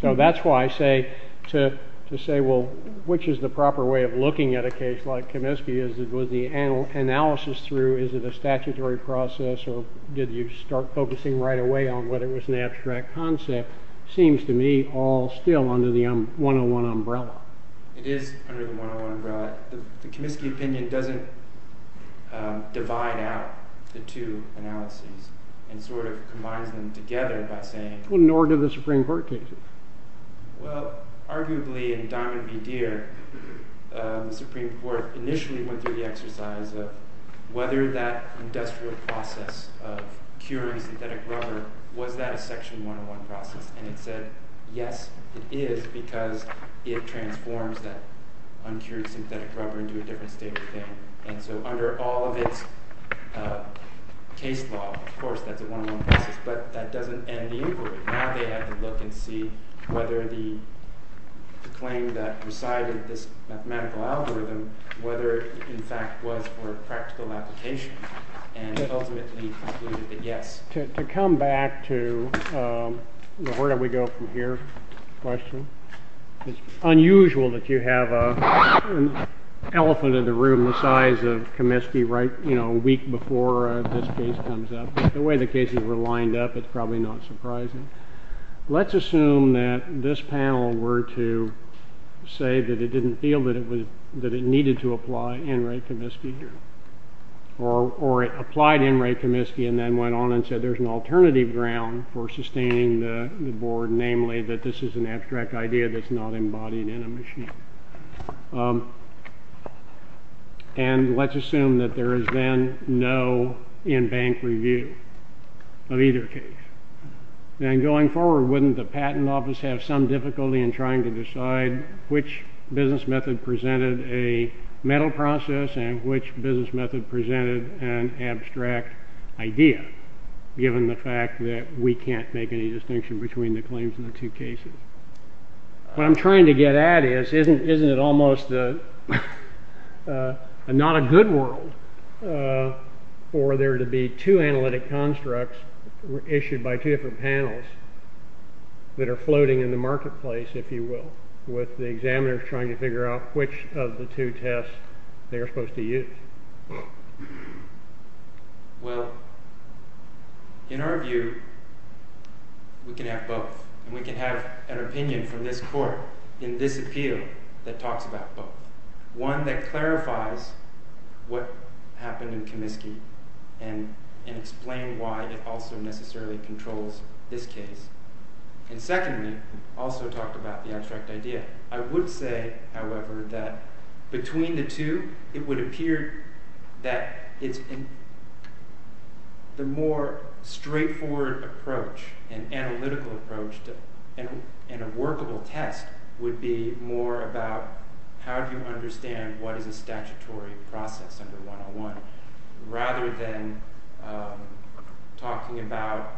So that's why I say to say, well, which is the proper way of looking at a case like Comiskey? Was the analysis through, is it a statutory process, or did you start focusing right away on whether it was an abstract concept? Seems to me all still under the one-on-one umbrella. It is under the one-on-one umbrella. The Comiskey opinion doesn't divide out the two analyses and sort of combines them together by saying... Well, nor do the Supreme Court cases. Well, arguably in Diamond v. Deere, the Supreme Court initially went through the exercise of whether that industrial process of curing synthetic rubber, was that a section one-on-one process? And it said, yes, it is, because it transforms that uncured synthetic rubber into a different state of thing. And so under all of its case law, of course that's a one-on-one process, but that doesn't end the inquiry. Now they have to look and see whether the claim that presided this mathematical algorithm, whether it in fact was for practical application, and ultimately concluded that yes. To come back to the where do we go from here question, it's unusual that you have an elephant in the room the size of Comiskey right, you know, a week before this case comes up. The way the cases were lined up, it's probably not surprising. Let's assume that this panel were to say that it didn't feel that it needed to apply Enright Comiskey here, or it applied Enright Comiskey and then went on and said there's an alternative ground for sustaining the board, namely that this is an abstract idea that's not embodied in a machine. And let's assume that there is then no in-bank review of either case. And going forward, wouldn't the patent office have some difficulty in trying to decide which business method presented a metal process and which business method presented an abstract idea, given the fact that we can't make any distinction between the claims in the two cases? What I'm trying to get at is isn't it almost not a good world for there to be two analytic constructs issued by two different panels that are floating in the marketplace, if you will, with the examiners trying to figure out which of the two tests they are supposed to use? Well, in our view, we can have both. And we can have an opinion from this court in this appeal that talks about both. One that clarifies what happened in Comiskey and explain why it also necessarily controls this case. And secondly, also talk about the abstract idea. I would say, however, that between the two, it would appear that the more straightforward approach and analytical approach in a workable test would be more about how do you understand what is a statutory process under 101 rather than talking about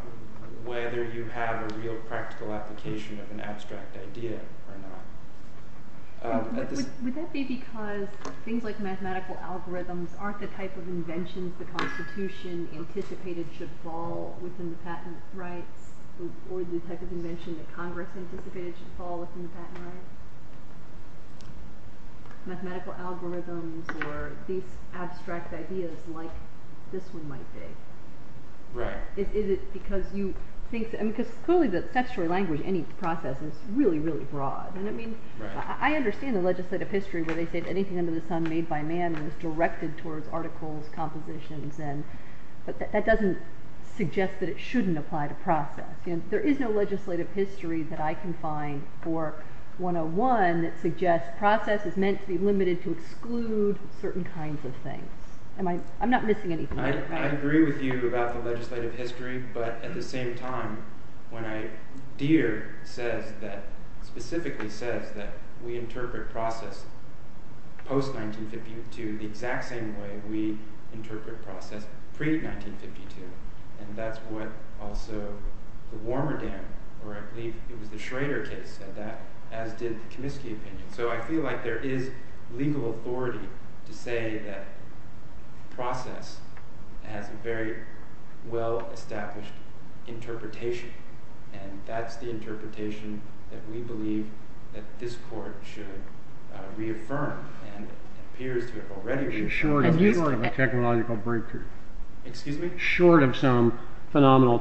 whether you have a real practical application of an abstract idea or not. Would that be because things like mathematical algorithms aren't the type of inventions the Constitution anticipated should fall within the patent rights? Or the type of invention that Congress anticipated should fall within the patent rights? Mathematical algorithms or these abstract ideas like this one might be. Is it because you think... Because clearly the statutory language in any process is really, really broad. I understand the legislative history where they say that anything under the sun made by man is directed towards articles, compositions, but that doesn't suggest that it shouldn't apply to process. There is no legislative history that I can find for 101 that suggests process is meant to be limited to exclude certain kinds of things. I'm not missing anything. I agree with you about the legislative history, but at the same time, when Deere specifically says that we interpret process post-1952 the exact same way we interpret process pre-1952, and that's what also the Warmerdam, or I believe it was the Schrader case, said that, as did the Comiskey opinion. So I feel like there is legal authority to say that process has a very well-established interpretation, and that's the interpretation that we believe that this Court should reaffirm, and it appears to have already reaffirmed. Short of a technological breakthrough. Excuse me? Short of some phenomenal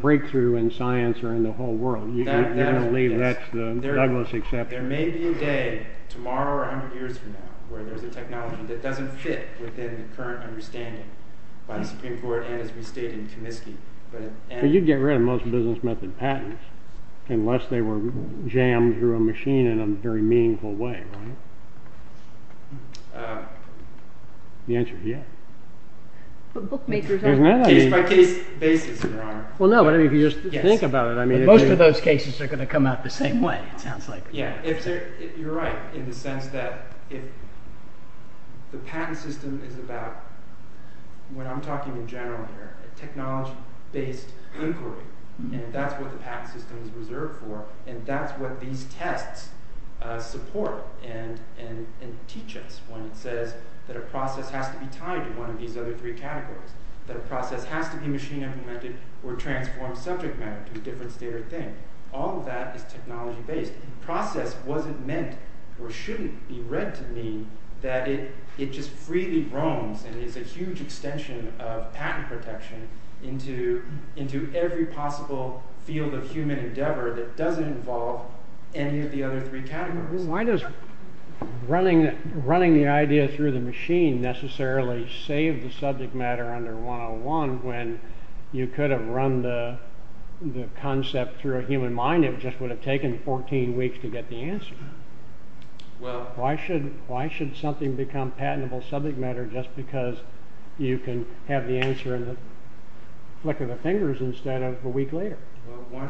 breakthrough in science or in the whole world. You're going to leave that to Douglas to accept. There may be a day tomorrow or 100 years from now where there's a technology that doesn't fit within the current understanding by the Supreme Court and as we state in Comiskey. But you'd get rid of most business method patents unless they were jammed through a machine in a very meaningful way, right? The answer is yes. But bookmakers... Case-by-case basis, Your Honor. Well, no, but if you just think about it... Most of those cases are going to come out the same way, it sounds like. Yeah, you're right, in the sense that the patent system is about, what I'm talking in general here, a technology-based inquiry, and that's what the patent system is reserved for, and that's what these tests support and teach us when it says that a process has to be tied to one of these other three categories, that a process has to be machine implemented or transformed subject matter to a different state or thing. All of that is technology-based. Process wasn't meant or shouldn't be read to mean that it just freely roams and is a huge extension of patent protection into every possible field of human endeavor that doesn't involve any of the other three categories. Why does running the idea through the machine necessarily save the subject matter under 101 when you could have run the concept through a human mind and it just would have taken 14 weeks to get the answer? Why should something become patentable subject matter just because you can have the answer in the flick of the fingers instead of a week later? Well,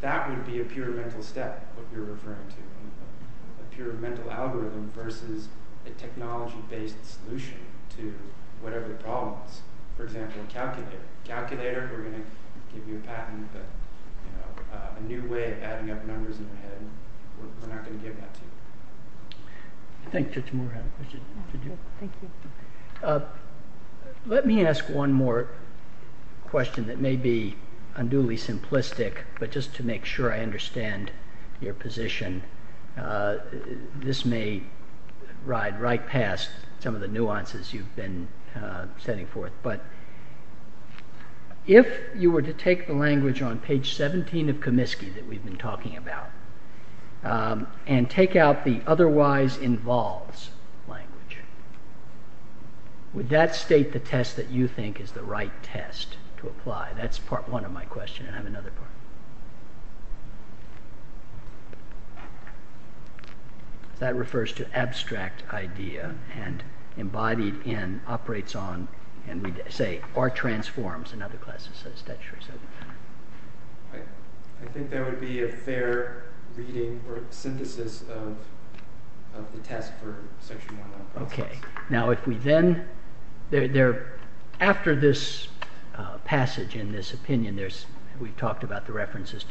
that would be a pure mental step, what you're referring to, a pure mental algorithm versus a technology-based solution to whatever the problem is. For example, a calculator. A calculator, we're going to give you a patent, but a new way of adding up numbers in your head, we're not going to give that to you. I think Judge Moore had a question. Thank you. Let me ask one more question that may be unduly simplistic, but just to make sure I understand your position. This may ride right past some of the nuances you've been setting forth, but if you were to take the language on page 17 of Comiskey that we've been talking about and take out the otherwise involves language, would that state the test that you think is the right test to apply? That's part one of my question, and I have another part. That refers to abstract idea and embodied in, operates on, and we say, or transforms in other classes. I think there would be a fair reading or synthesis of the test for Section 101. Now if we then, after this passage in this opinion, we've talked about the references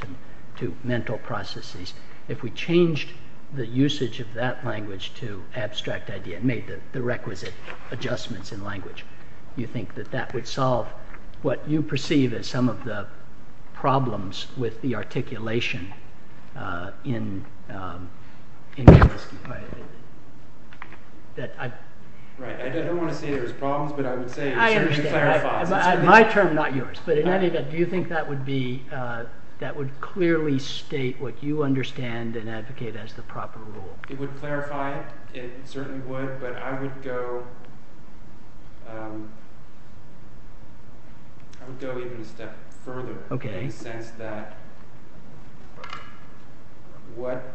to mental processes, if we changed the usage of that language to abstract idea and made the requisite adjustments in language, do you think that that would solve what you perceive as some of the problems with the articulation in Comiskey? I don't want to say there's problems, but I would say it clarifies. My term, not yours, but do you think that would clearly state what you understand and advocate as the proper rule? It would clarify it. It certainly would, but I would go even a step further in the sense that what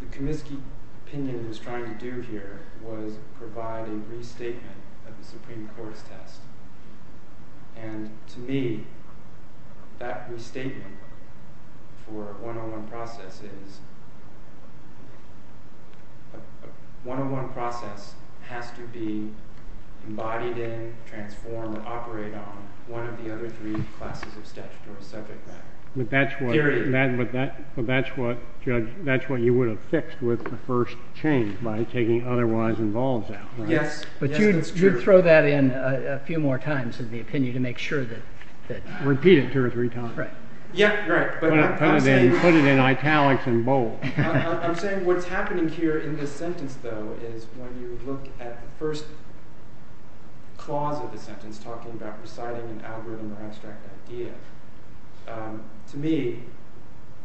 the Comiskey opinion was trying to do here was provide a restatement of the Supreme Court's test. And to me, that restatement for 101 process is, 101 process has to be embodied in, transformed, and operate on one of the other three classes of statutory subject matter. Period. But that's what, Judge, that's what you would have fixed with the first change by taking otherwise involved out, right? Yes, that's true. But you'd throw that in a few more times in the opinion to make sure that... Repeat it two or three times. Right. Yeah, right, but I'm saying... Put it in italics and bold. I'm saying what's happening here in this sentence, though, is when you look at the first clause of the sentence talking about reciting an algorithm or abstract idea, to me,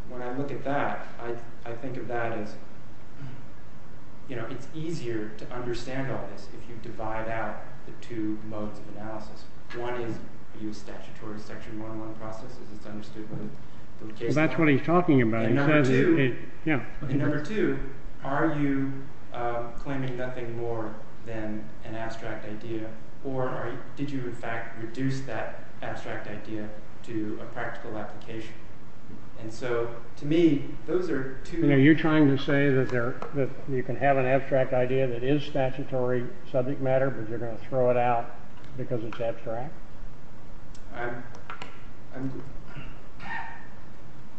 when I look at that, I think of that as, you know, it's easier to understand all this if you divide out the two modes of analysis. One is you use statutory section 101 process as it's understood by the case law. Well, that's what he's talking about. In number two, are you claiming nothing more than an abstract idea, or did you, in fact, reduce that abstract idea to a practical application? And so, to me, those are two... Are you trying to say that you can have an abstract idea that is statutory subject matter, but you're going to throw it out because it's abstract? I'm...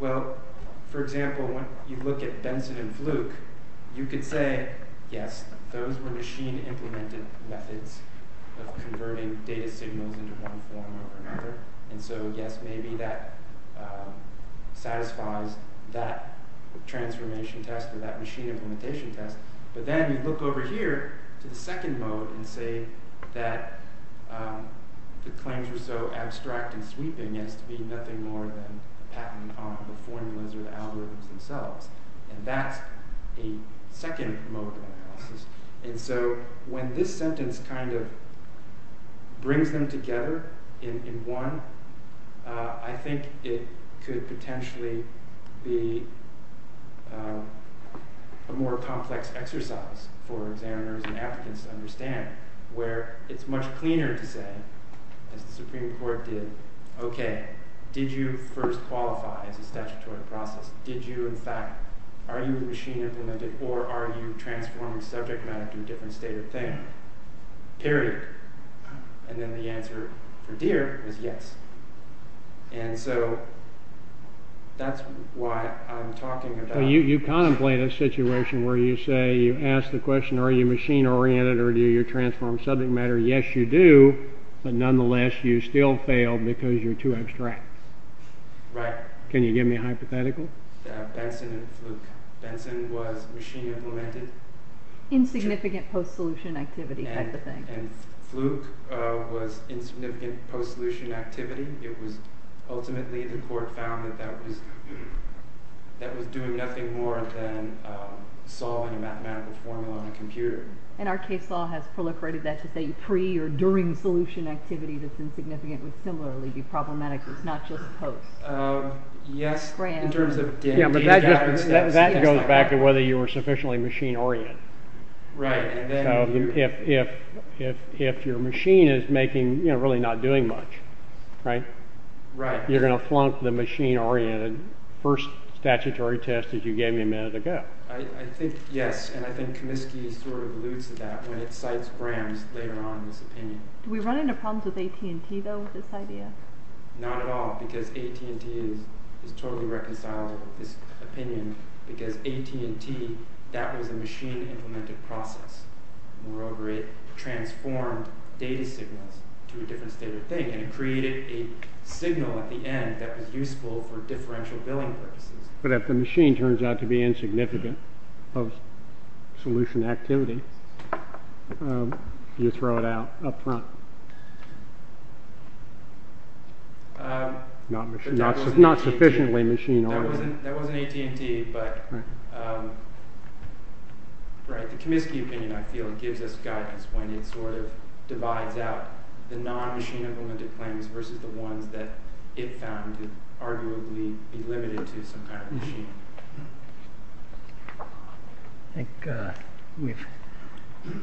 Well, for example, when you look at Benson and Fluke, you could say, yes, those were machine-implemented methods of converting data signals into one form or another, and so, yes, maybe that satisfies that transformation test or that machine-implementation test, but then you look over here to the second mode and say that the claims were so abstract and sweeping as to be nothing more than patented on the formulas or the algorithms themselves, and that's a second mode of analysis. And so when this sentence kind of brings them together in one, I think it could potentially be a more complex exercise for examiners and applicants to understand where it's much cleaner to say, as the Supreme Court did, okay, did you first qualify as a statutory process? Did you, in fact, are you a machine-implemented or are you transforming subject matter to a different state or thing? Period. And then the answer for Deere was yes. And so that's why I'm talking about... You contemplate a situation where you say, you ask the question, are you machine-oriented or do you transform subject matter? Yes, you do, but nonetheless, you still fail because you're too abstract. Right. Can you give me a hypothetical? Benson and Fluke. Benson was machine-implemented. Insignificant post-solution activity type of thing. And Fluke was insignificant post-solution activity. It was ultimately the court found that that was doing nothing more than solving a mathematical formula on a computer. And our case law has proliferated that to say pre- or during-solution activity that's insignificant would similarly be problematic. It's not just post. Yes, in terms of Deere... That goes back to whether you were sufficiently machine-oriented. Right. So if your machine is making, you know, really not doing much, right? Right. You're going to flunk the machine-oriented first statutory test that you gave me a minute ago. I think yes, and I think Comiskey sort of alludes to that when it cites Graham's later on in this opinion. Do we run into problems with AT&T, though, with this idea? Not at all, because AT&T is totally reconciled with this opinion because AT&T, that was a machine-implemented process. Moreover, it transformed data signals to a different state of thing, and it created a signal at the end that was useful for differential billing purposes. But if the machine turns out to be insignificant post-solution activity, you throw it out up front. Not sufficiently machine-oriented. That wasn't AT&T, but, right, the Comiskey opinion, I feel, gives us guidance when it sort of divides out the non-machine-implemented claims versus the ones that it found to arguably be limited to some kind of machine. I think we've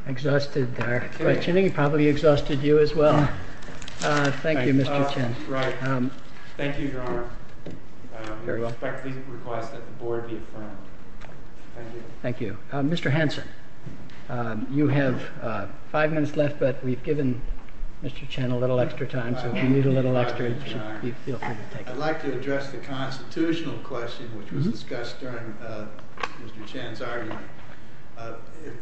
exhausted our questioning, probably exhausted you as well. Thank you, Mr. Chen. Thank you, Your Honor. We respectfully request that the board be affirmed. Thank you. Thank you. Mr. Hanson, you have five minutes left, but we've given Mr. Chen a little extra time, so if you need a little extra, you feel free to take it. I'd like to address the constitutional question which was discussed during Mr. Chen's argument.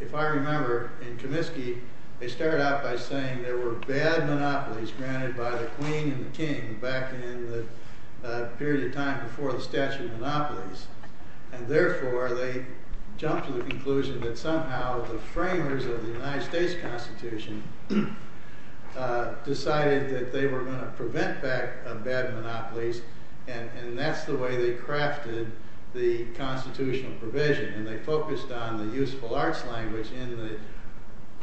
If I remember, in Comiskey, they started out by saying there were bad monopolies granted by the queen and the king back in the period of time before the statute of monopolies, and therefore they jumped to the conclusion that somehow the framers of the United States Constitution decided that they were going to prevent back bad monopolies, and that's the way they crafted the constitutional provision, and they focused on the useful arts language in the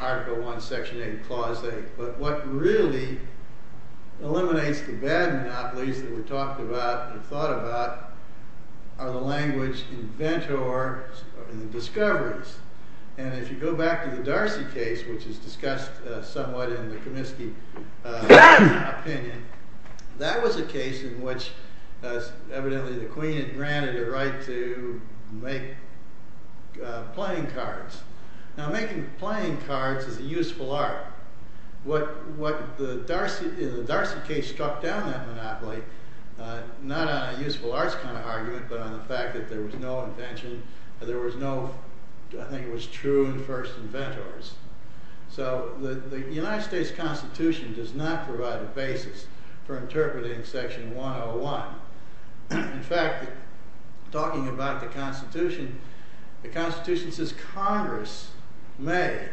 Article I, Section 8, Clause 8, but what really eliminates the bad monopolies that were talked about and thought about are the language in ventures and discoveries, and if you go back to the Darcy case, which is discussed somewhat in the Comiskey opinion, that was a case in which evidently the queen had granted a right to make playing cards. Now, making playing cards is a useful art. The Darcy case struck down that monopoly not on a useful arts kind of argument, but on the fact that there was no invention, there was no, I think it was true in first inventors, so the United States Constitution does not provide a basis for interpreting Section 101. In fact, talking about the Constitution, the Constitution says Congress may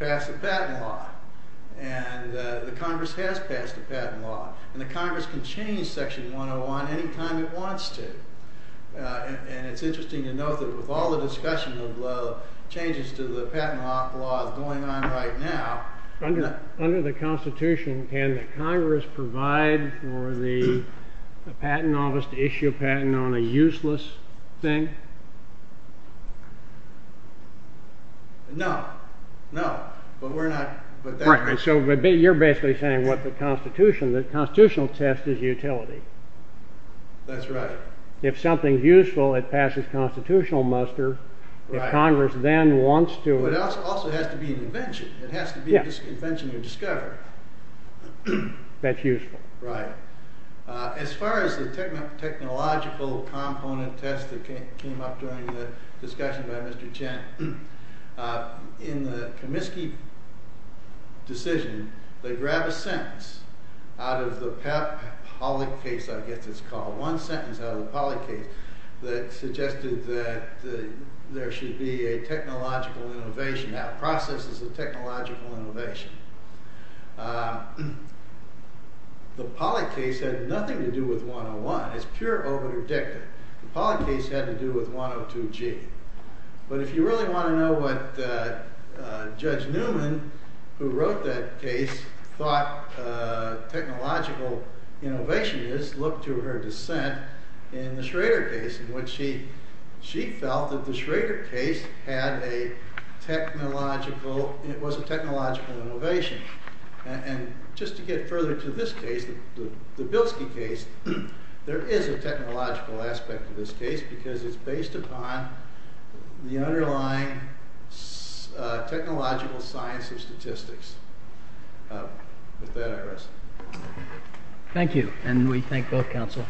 pass a patent law, and the Congress has passed a patent law, and the Congress can change Section 101 any time it wants to, and it's interesting to note that with all the discussion of changes to the patent law going on right now, under the Constitution, can the Congress provide for the patent office to issue a patent on a useless thing? No, no, but we're not... Right, so you're basically saying what the Constitution, the Constitutional test is utility. That's right. If something's useful, it passes Constitutional muster, if Congress then wants to... But it also has to be an invention. It has to be this invention you discover. That's useful. Right. As far as the technological component test that came up during the discussion by Mr. Chen, in the Comiskey decision, they grabbed a sentence out of the Pollock case, I guess it's called, one sentence out of the Pollock case that suggested that there should be a technological innovation, that process is a technological innovation. The Pollock case had nothing to do with 101. It's pure over-predictive. The Pollock case had to do with 102G. But if you really want to know what Judge Newman, who wrote that case, thought technological innovation is, look to her dissent in the Schrader case, in which she felt that the Schrader case was a technological innovation. And just to get further to this case, the Bilski case, there is a technological aspect to this case because it's based upon the underlying technological science of statistics. With that, I rest. Thank you, and we thank both counsel.